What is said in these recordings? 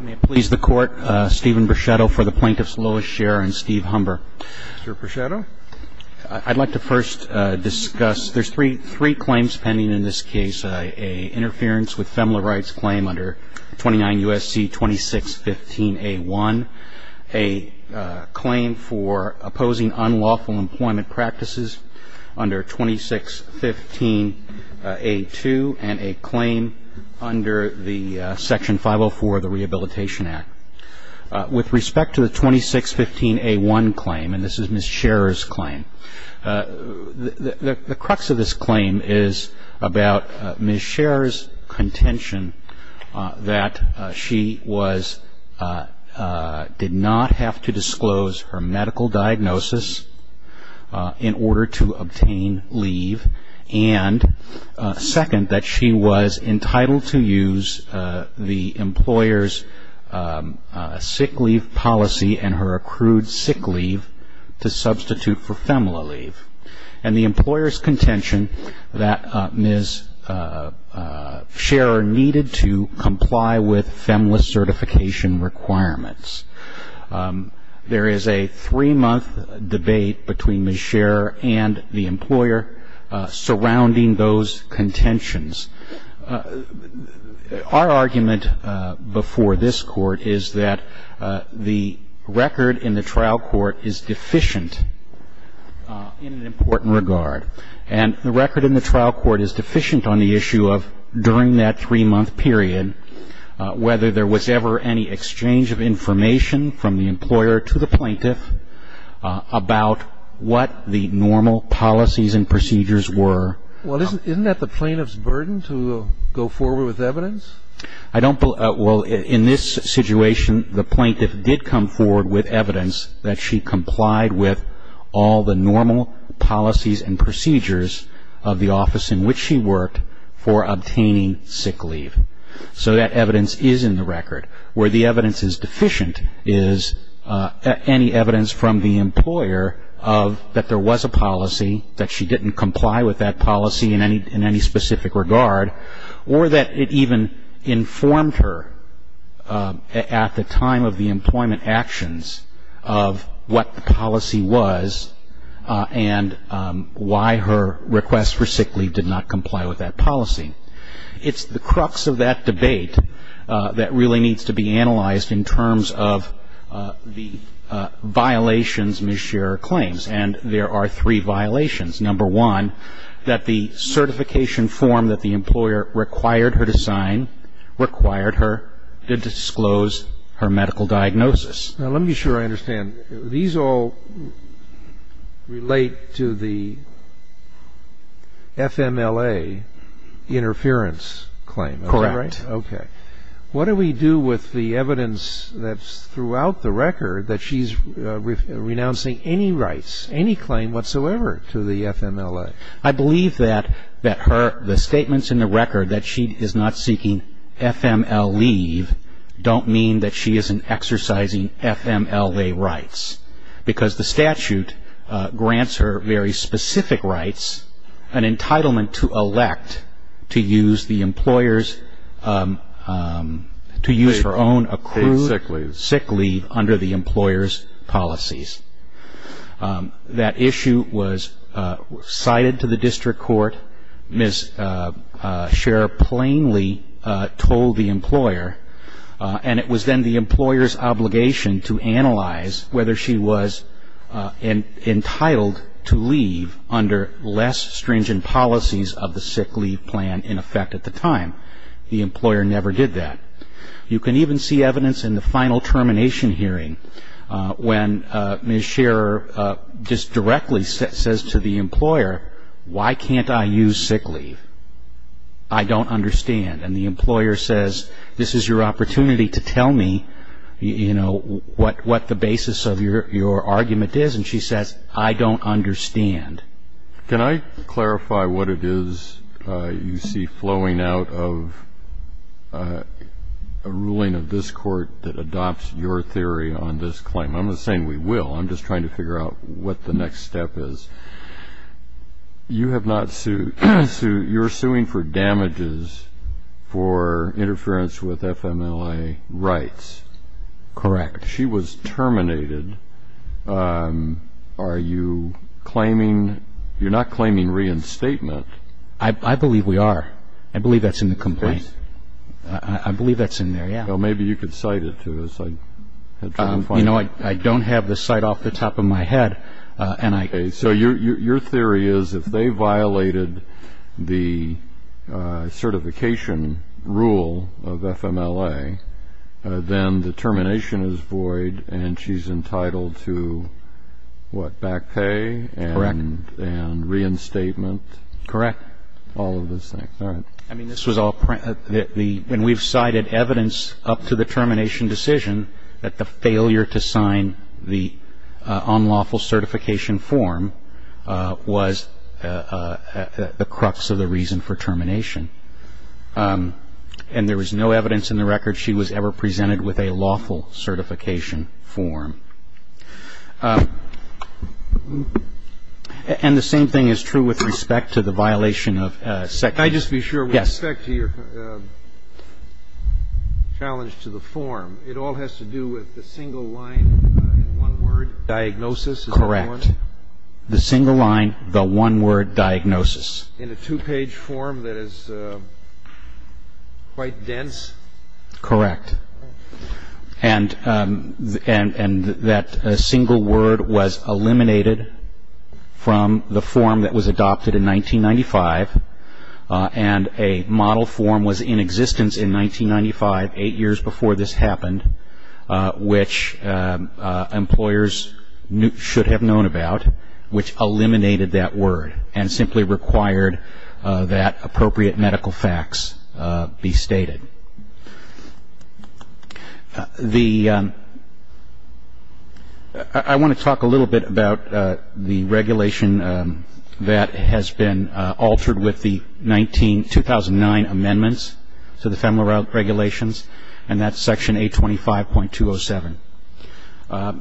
May it please the Court, Stephen Breschetto for the Plaintiff's Lois Sharer and Steve Humber. Mr. Breschetto. I'd like to first discuss, there's three claims pending in this case, an interference with FEMLA rights claim under 29 U.S.C. 2615A1, a claim for opposing unlawful employment practices under 2615A2, and a claim under the Section 504 of the Rehabilitation Act. With respect to the 2615A1 claim, and this is Ms. Sharer's claim, the crux of this claim is about Ms. Sharer's contention that she did not have to disclose her medical diagnosis in order to obtain leave, and second, that she was entitled to use the employer's sick leave policy and her accrued sick leave to substitute for FEMLA leave, and the employer's contention that Ms. Sharer needed to comply with FEMLA certification requirements. There is a three-month debate between Ms. Sharer and the employer surrounding those contentions. Our argument before this Court is that the record in the trial court is deficient in an important regard, and the record in the trial court is deficient on the issue of, during that three-month period, whether there was ever any exchange of information from the employer to the plaintiff about what the normal policies and procedures were. Isn't that the plaintiff's burden to go forward with evidence? In this situation, the plaintiff did come forward with evidence that she complied with all the normal policies and procedures of the office in which she worked for obtaining sick leave. So that evidence is in the record. Where the evidence is deficient is any evidence from the employer that there was a policy, that she didn't comply with that policy in any specific regard, or that it even informed her at the time of the employment actions of what the policy was and why her request for sick leave did not comply with that policy. It's the crux of that debate that really needs to be analyzed in terms of the violations Ms. Sharer claims, and there are three violations. Number one, that the certification form that the employer required her to sign required her to disclose her medical diagnosis. Now, let me be sure I understand. These all relate to the FMLA interference claim. Correct. Okay. What do we do with the evidence that's throughout the record that she's renouncing any rights, any claim whatsoever to the FMLA? I believe that the statements in the record that she is not seeking FML leave don't mean that she isn't exercising FMLA rights, because the statute grants her very specific rights, an entitlement to elect to use the employer's, to use her own accrued sick leave under the employer's policies. That issue was cited to the district court. Ms. Sharer plainly told the employer, and it was then the employer's obligation to analyze whether she was entitled to leave under less stringent policies of the sick leave plan in effect at the time. The employer never did that. You can even see evidence in the final termination hearing when Ms. Sharer just directly says to the employer, why can't I use sick leave? I don't understand. And the employer says, this is your opportunity to tell me, you know, what the basis of your argument is. And she says, I don't understand. Can I clarify what it is you see flowing out of a ruling of this court that adopts your theory on this claim? I'm not saying we will. I'm just trying to figure out what the next step is. You have not sued. You're suing for damages for interference with FMLA rights. Correct. She was terminated. Are you claiming, you're not claiming reinstatement. I believe we are. I believe that's in the complaint. I believe that's in there, yeah. Well, maybe you could cite it to us. You know, I don't have the cite off the top of my head. So your theory is if they violated the certification rule of FMLA, then the termination is void and she's entitled to, what, back pay? Correct. And reinstatement? Correct. All of those things. All right. I mean, this was all, when we've cited evidence up to the termination decision that the failure to sign the unlawful certification form was the crux of the reason for termination. And there was no evidence in the record she was ever presented with a lawful certification form. And the same thing is true with respect to the violation of second. Can I just be sure? Yes. With respect to your challenge to the form, it all has to do with the single line, one word, diagnosis. Correct. The single line, the one word diagnosis. In a two-page form that is quite dense. Correct. And that single word was eliminated from the form that was adopted in 1995, and a model form was in existence in 1995, eight years before this happened, which employers should have known about, which eliminated that word and simply required that appropriate medical facts be stated. I want to talk a little bit about the regulation that has been altered with the 2009 amendments to the FEMLA regulations, and that's Section 825.207.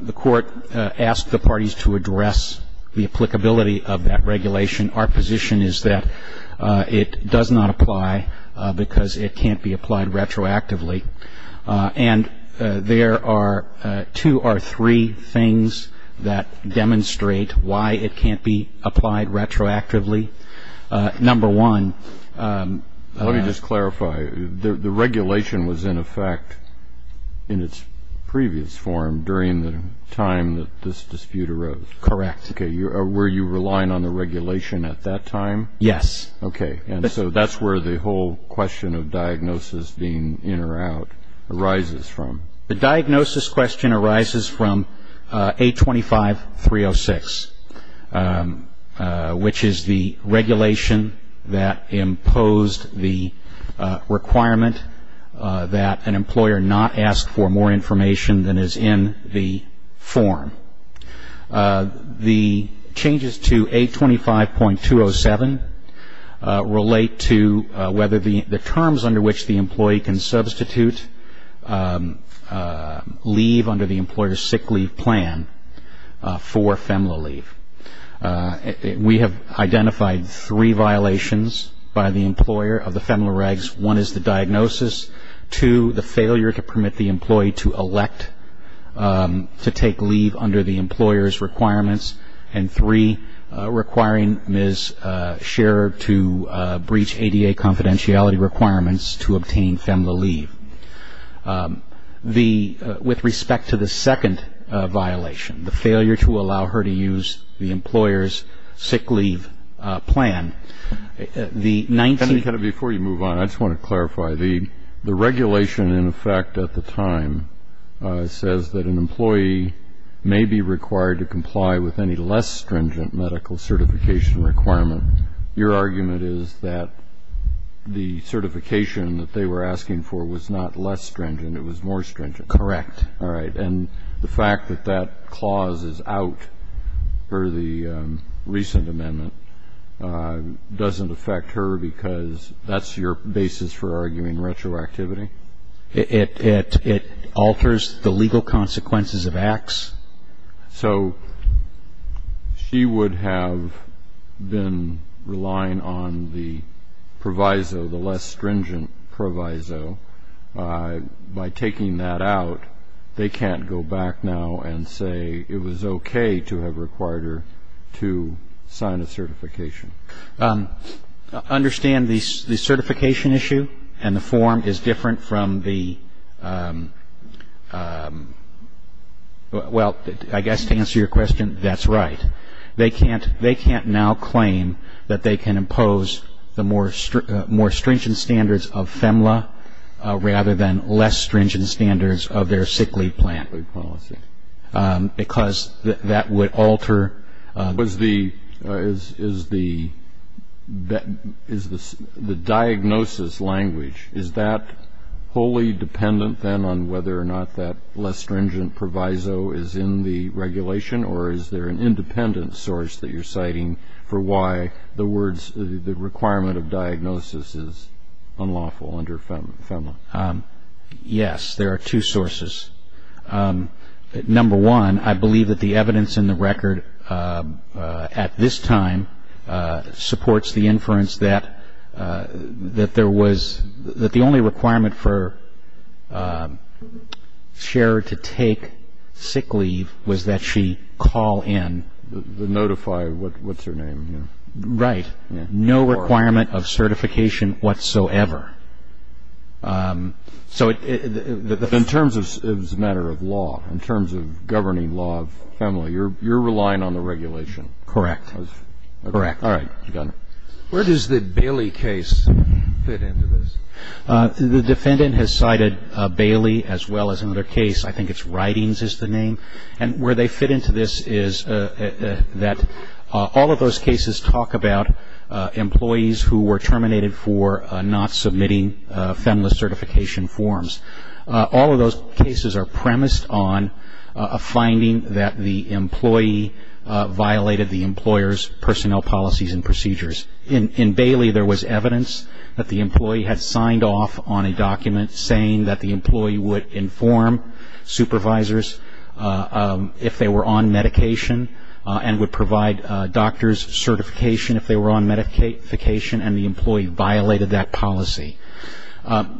The Court asked the parties to address the applicability of that regulation. Our position is that it does not apply because it can't be applied retroactively. And there are two or three things that demonstrate why it can't be applied retroactively. Number one. Let me just clarify. The regulation was in effect in its previous form during the time that this dispute arose. Correct. Were you relying on the regulation at that time? Yes. Okay. And so that's where the whole question of diagnosis being in or out arises from. The diagnosis question arises from 825.306, which is the regulation that imposed the requirement that an employer not ask for more information than is in the form. The changes to 825.207 relate to whether the terms under which the employee can substitute leave under the employer's sick leave plan for FEMLA leave. We have identified three violations by the employer of the FEMLA regs. One is the diagnosis. Two, the failure to permit the employee to elect to take leave under the employer's requirements. And three, requiring Ms. Scherer to breach ADA confidentiality requirements to obtain FEMLA leave. With respect to the second violation, the failure to allow her to use the employer's sick leave plan, the 19- Mr. Kennedy, before you move on, I just want to clarify. The regulation, in effect, at the time says that an employee may be required to comply with any less stringent medical certification requirement. Your argument is that the certification that they were asking for was not less stringent, it was more stringent. Correct. All right. And the fact that that clause is out per the recent amendment doesn't affect her because that's your basis for arguing retroactivity? It alters the legal consequences of acts. So she would have been relying on the proviso, the less stringent proviso. By taking that out, they can't go back now and say it was okay to have required her to sign a certification. Understand the certification issue and the form is different from the ñ well, I guess to answer your question, that's right. They can't now claim that they can impose the more stringent standards of FEMLA rather than less stringent standards of their sick leave plan because that would alter. Is the diagnosis language, is that wholly dependent then on whether or not that less stringent proviso is in the regulation or is there an independent source that you're citing for why the requirement of diagnosis is unlawful under FEMLA? Yes, there are two sources. Number one, I believe that the evidence in the record at this time supports the inference that the only requirement for Cher to take sick leave was that she call in. Notify, what's her name? Right. No requirement of certification whatsoever. So in terms of ñ it was a matter of law, in terms of governing law of FEMLA, you're relying on the regulation. Correct. Correct. All right. Go ahead. Where does the Bailey case fit into this? The defendant has cited Bailey as well as another case. I think it's Writings is the name. And where they fit into this is that all of those cases talk about employees who were terminated for not submitting FEMLA certification forms. All of those cases are premised on a finding that the employee violated the employer's personnel policies and procedures. In Bailey there was evidence that the employee had signed off on a document saying that the employee would inform supervisors if they were on medication and would provide doctor's certification if they were on medication and the employee violated that policy.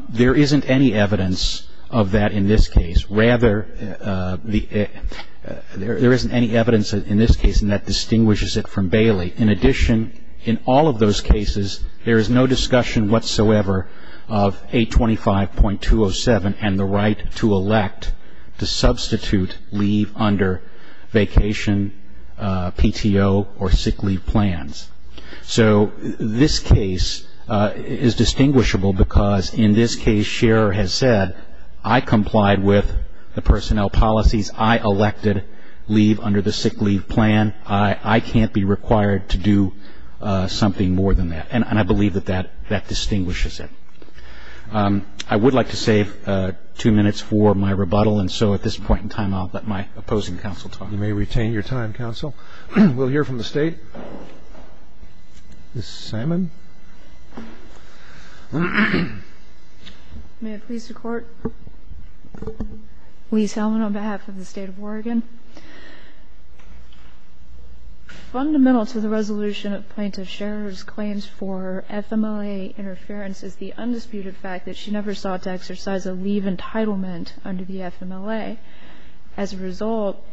There isn't any evidence of that in this case. Rather, there isn't any evidence in this case that distinguishes it from Bailey. In addition, in all of those cases there is no discussion whatsoever of 825.207 and the right to elect to substitute leave under vacation, PTO, or sick leave plans. So this case is distinguishable because in this case Scherer has said, I complied with the personnel policies. I elected leave under the sick leave plan. I can't be required to do something more than that. And I believe that that distinguishes it. I would like to save two minutes for my rebuttal. And so at this point in time I'll let my opposing counsel talk. You may retain your time, counsel. We'll hear from the State. Ms. Salmon. May it please the Court? Lee Salmon on behalf of the State of Oregon. Fundamental to the resolution of Plaintiff Scherer's claims for FMLA interference is the undisputed fact that she never sought to exercise a leave entitlement under the FMLA. As a result,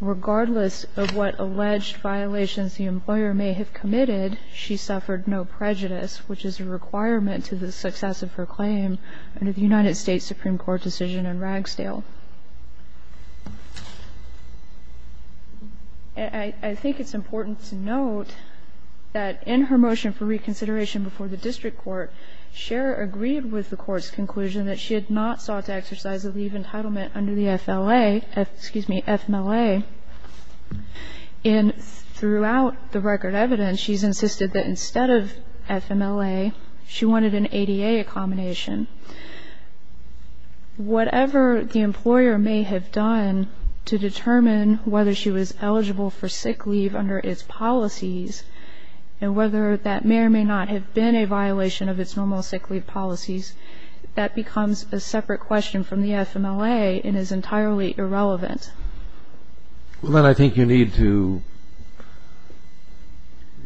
regardless of what alleged violations the employer may have committed, she suffered no prejudice, which is a requirement to the success of her claim under the United States Supreme Court decision in Ragsdale. I think it's important to note that in her motion for reconsideration before the district court, Scherer agreed with the Court's conclusion that she had not sought to exercise a leave entitlement under the FLA, excuse me, FMLA. And throughout the record evidence, she's insisted that instead of FMLA, she wanted an ADA accommodation. Whatever the employer may have done to determine whether she was eligible for sick leave under its policies and whether that may or may not have been a violation of its normal sick leave policies, that becomes a separate question from the FMLA and is entirely irrelevant. Well, then I think you need to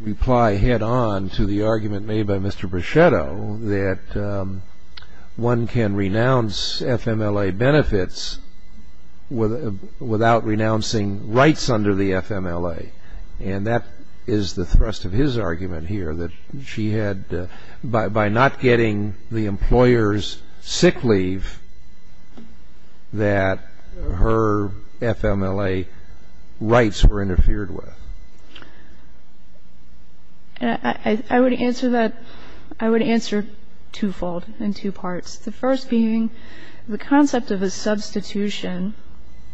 reply head-on to the argument made by Mr. Breschetto that one can renounce FMLA benefits without renouncing rights under the FMLA. And that is the thrust of his argument here, that she had, by not getting the employer's sick leave, that her FMLA rights were interfered with. I would answer that. I would answer twofold in two parts, the first being the concept of a substitution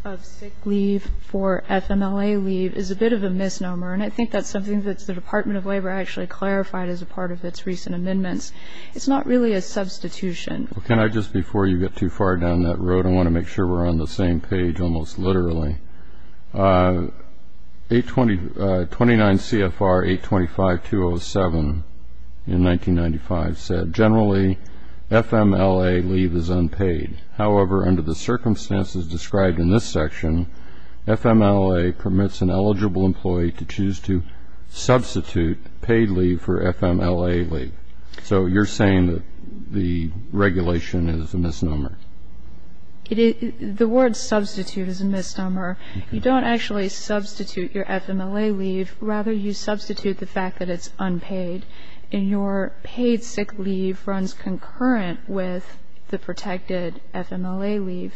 of sick leave for FMLA leave is a bit of a misnomer, and I think that's something that the Department of Labor actually clarified as a part of its recent amendments. It's not really a substitution. Well, can I just, before you get too far down that road, I want to make sure we're on the same page almost literally. 29 CFR 825-207 in 1995 said, generally FMLA leave is unpaid. However, under the circumstances described in this section, FMLA permits an eligible employee to choose to substitute paid leave for FMLA leave. So you're saying that the regulation is a misnomer. The word substitute is a misnomer. You don't actually substitute your FMLA leave. Rather, you substitute the fact that it's unpaid. And your paid sick leave runs concurrent with the protected FMLA leave.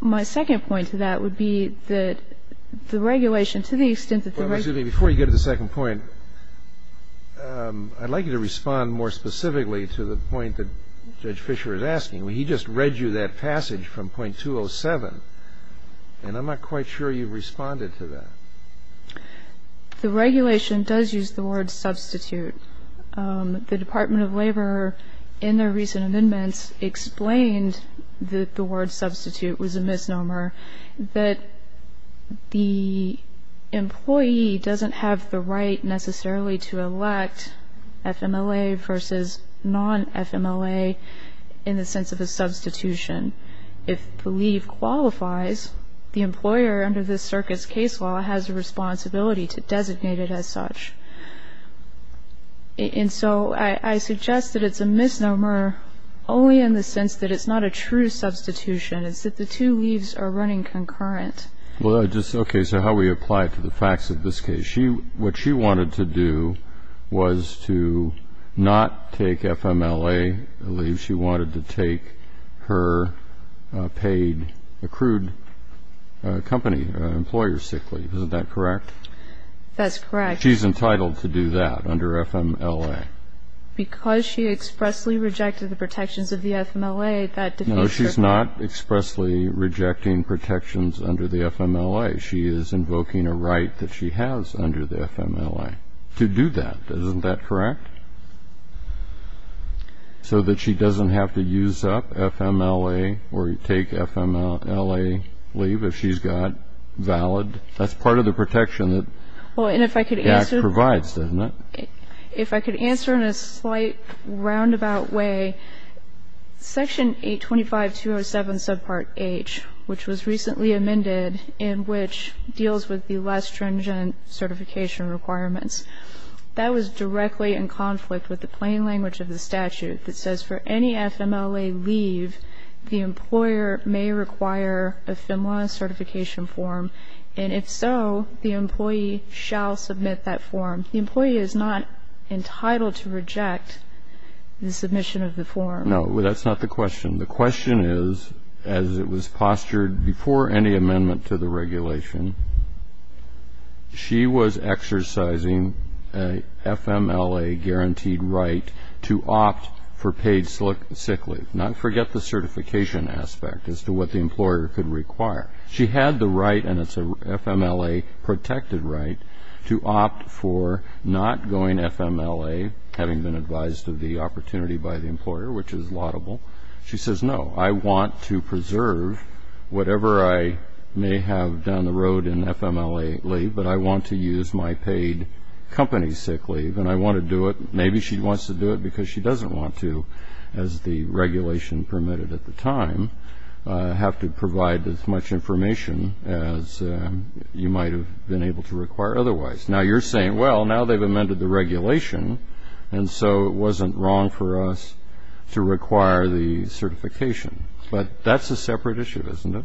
My second point to that would be that the regulation, to the extent that the regulation ---- Well, excuse me, before you get to the second point, I'd like you to respond more specifically to the point that Judge Fischer is asking. He just read you that passage from .207, and I'm not quite sure you responded to that. The regulation does use the word substitute. The Department of Labor, in their recent amendments, explained that the word substitute was a misnomer, that the employee doesn't have the right necessarily to elect FMLA versus non-FMLA in the sense of a substitution. If the leave qualifies, the employer, under this circuit's case law, has a responsibility to designate it as such. And so I suggest that it's a misnomer only in the sense that it's not a true substitution. It's that the two leaves are running concurrent. Okay, so how do we apply it to the facts of this case? What she wanted to do was to not take FMLA leave. She wanted to take her paid, accrued company employer sick leave. Isn't that correct? That's correct. She's entitled to do that under FMLA. Because she expressly rejected the protections of the FMLA, that defeats her point. No, she's not expressly rejecting protections under the FMLA. She is invoking a right that she has under the FMLA to do that. Isn't that correct? So that she doesn't have to use up FMLA or take FMLA leave if she's got valid. That's part of the protection that the Act provides, doesn't it? If I could answer in a slight roundabout way, Section 825.207, subpart H, which was recently amended and which deals with the less stringent certification requirements, that was directly in conflict with the plain language of the statute that says for any FMLA leave, the employer may require a FMLA certification form, and if so, the employee shall submit that form. The employee is not entitled to reject the submission of the form. No, that's not the question. The question is, as it was postured before any amendment to the regulation, she was exercising a FMLA-guaranteed right to opt for paid sick leave. Now, forget the certification aspect as to what the employer could require. She had the right, and it's a FMLA-protected right, to opt for not going FMLA, having been advised of the opportunity by the employer, which is laudable. She says, no, I want to preserve whatever I may have down the road in FMLA leave, but I want to use my paid company sick leave, and I want to do it. Maybe she wants to do it because she doesn't want to, as the regulation permitted at the time, have to provide as much information as you might have been able to require otherwise. Now, you're saying, well, now they've amended the regulation, and so it wasn't wrong for us to require the certification. But that's a separate issue, isn't it?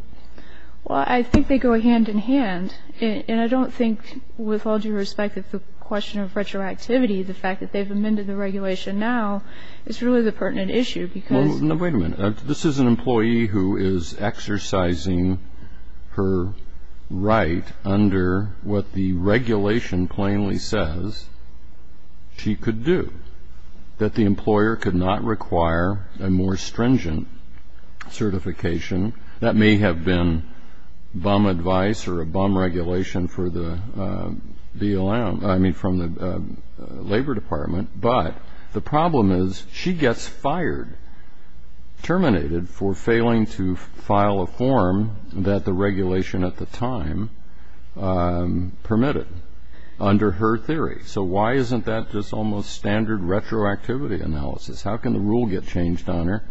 Well, I think they go hand in hand, and I don't think with all due respect that the question of retroactivity, the fact that they've amended the regulation now, is really the pertinent issue. Wait a minute. This is an employee who is exercising her right under what the regulation plainly says she could do, that the employer could not require a more stringent certification. That may have been bum advice or a bum regulation from the Labor Department, but the problem is she gets fired, terminated, for failing to file a form that the regulation at the time permitted under her theory. So why isn't that just almost standard retroactivity analysis? How can the rule get changed on her?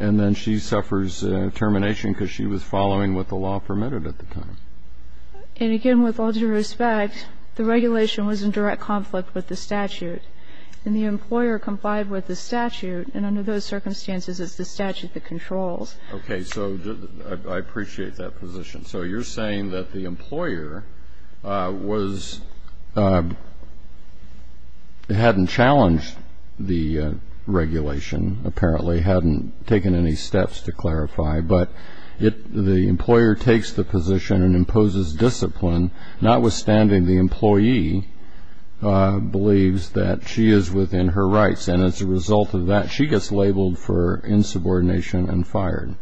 And then she suffers termination because she was following what the law permitted at the time. And again, with all due respect, the regulation was in direct conflict with the statute, and the employer complied with the statute, and under those circumstances, it's the statute that controls. Okay. So I appreciate that position. So you're saying that the employer hadn't challenged the regulation, apparently, hadn't taken any steps to clarify, but the employer takes the position and imposes discipline, notwithstanding the employee believes that she is within her rights, and as a result of that, she gets labeled for insubordination and fired.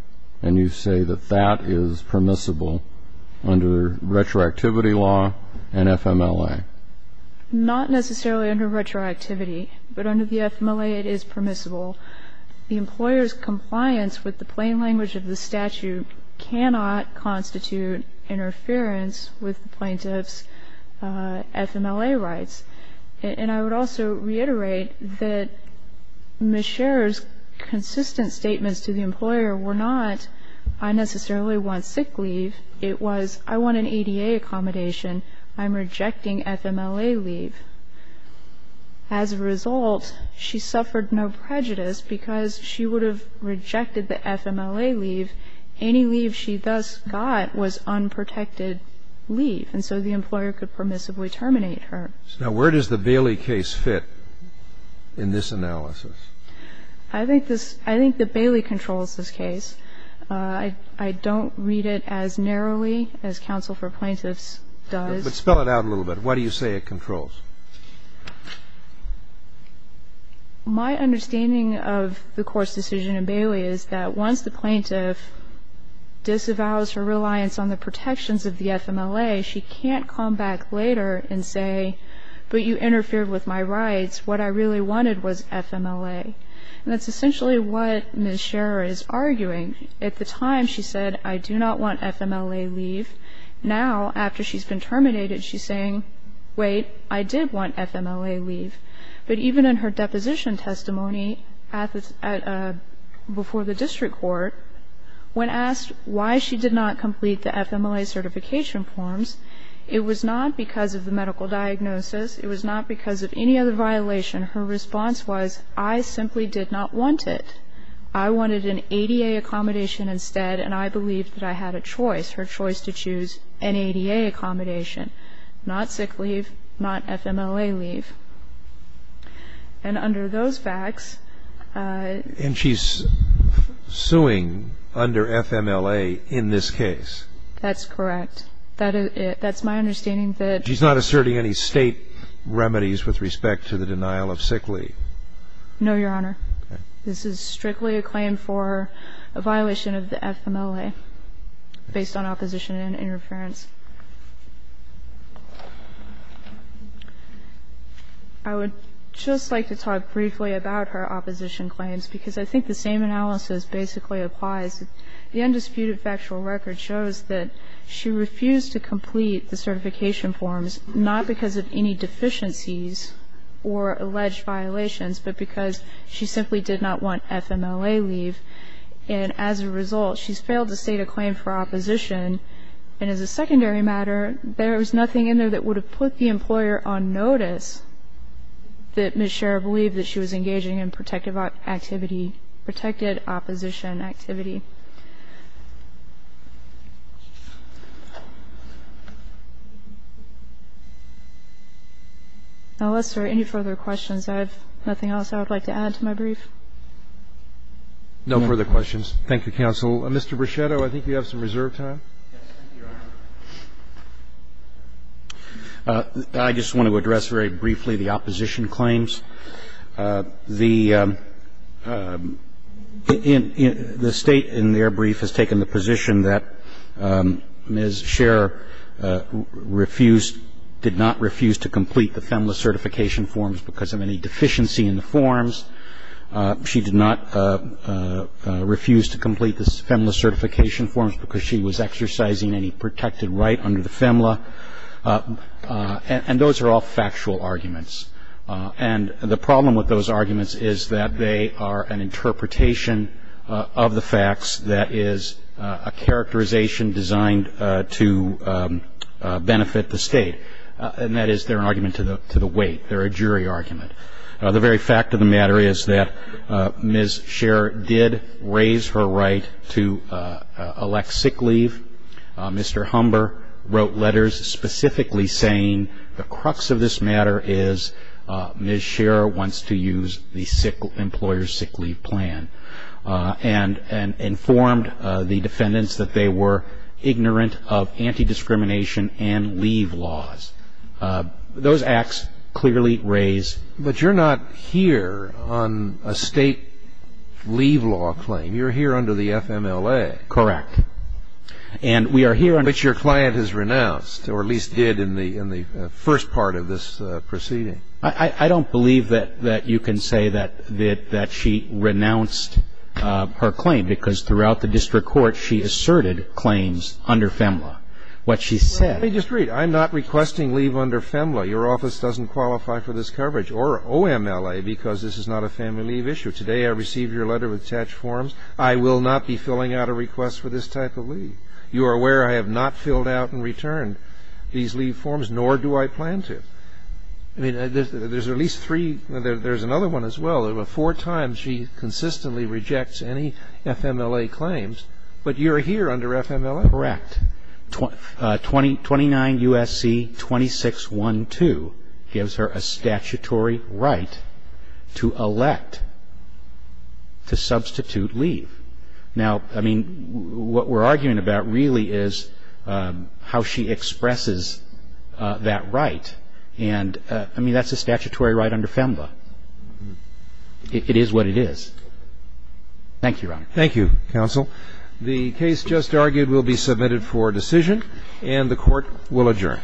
And you say that that is permissible under retroactivity law and FMLA. Not necessarily under retroactivity, but under the FMLA, it is permissible. The employer's compliance with the plain language of the statute cannot constitute interference with the plaintiff's FMLA rights. And I would also reiterate that Ms. Scherer's consistent statements to the employer were not, I necessarily want sick leave. It was, I want an ADA accommodation. I'm rejecting FMLA leave. As a result, she suffered no prejudice because she would have rejected the FMLA leave. Any leave she thus got was unprotected leave, and so the employer could permissibly terminate her. Now, where does the Bailey case fit in this analysis? I think this, I think that Bailey controls this case. I don't read it as narrowly as counsel for plaintiffs does. But spell it out a little bit. Why do you say it controls? My understanding of the court's decision in Bailey is that once the plaintiff disavows her reliance on the protections of the FMLA, she can't come back later and say, but you interfered with my rights. What I really wanted was FMLA. And that's essentially what Ms. Scherer is arguing. At the time, she said, I do not want FMLA leave. Now, after she's been terminated, she's saying, wait, I did want FMLA leave. But even in her deposition testimony before the district court, when asked why she did not complete the FMLA certification forms, it was not because of the medical diagnosis, it was not because of any other violation. Her response was, I simply did not want it. I wanted an ADA accommodation instead, and I believe that I had a choice, her choice to choose an ADA accommodation, not sick leave, not FMLA leave. And under those facts ---- And she's suing under FMLA in this case? That's correct. That's my understanding that ---- She's not asserting any State remedies with respect to the denial of sick leave? No, Your Honor. Okay. This is strictly a claim for a violation of the FMLA based on opposition and interference. I would just like to talk briefly about her opposition claims, because I think the same analysis basically applies. The undisputed factual record shows that she refused to complete the certification forms, not because of any deficiencies or alleged violations, but because she simply did not want FMLA leave. And as a result, she's failed to state a claim for opposition. And as a secondary matter, there is nothing in there that would have put the employer on notice that Ms. Sherra believed that she was engaging in protective activity, protected opposition activity. Unless there are any further questions, I have nothing else I would like to add to my brief. No further questions. Thank you, counsel. Mr. Brichetto, I think you have some reserve time. Yes, thank you, Your Honor. I just want to address very briefly the opposition claims. The State in their brief has taken the position that Ms. Sherra refused, did not refuse to complete the FMLA certification forms because of any deficiency in the forms. She did not refuse to complete the FMLA certification forms because she was exercising any protected right under the FMLA. And those are all factual arguments. And the problem with those arguments is that they are an interpretation of the facts that is a characterization designed to benefit the State. And that is they're an argument to the weight. They're a jury argument. The very fact of the matter is that Ms. Sherra did raise her right to elect sick leave. Mr. Humber wrote letters specifically saying the crux of this matter is Ms. Sherra wants to use the employer's sick leave plan and informed the defendants that they were ignorant of anti-discrimination and leave laws. Those acts clearly raise ---- But you're not here on a State leave law claim. You're here under the FMLA. Correct. And we are here on ---- But your client has renounced or at least did in the first part of this proceeding. I don't believe that you can say that she renounced her claim because throughout the district court she asserted claims under FMLA. What she said ---- Let me just read. I'm not requesting leave under FMLA. Your office doesn't qualify for this coverage or OMLA because this is not a family leave issue. Today I received your letter with attached forms. I will not be filling out a request for this type of leave. You are aware I have not filled out and returned these leave forms, nor do I plan to. I mean, there's at least three ---- there's another one as well. Four times she consistently rejects any FMLA claims. But you're here under FMLA. Correct. 29 U.S.C. 2612 gives her a statutory right to elect to substitute leave. Now, I mean, what we're arguing about really is how she expresses that right. And, I mean, that's a statutory right under FMLA. It is what it is. Thank you, Your Honor. Thank you, counsel. The case just argued will be submitted for decision, and the Court will adjourn.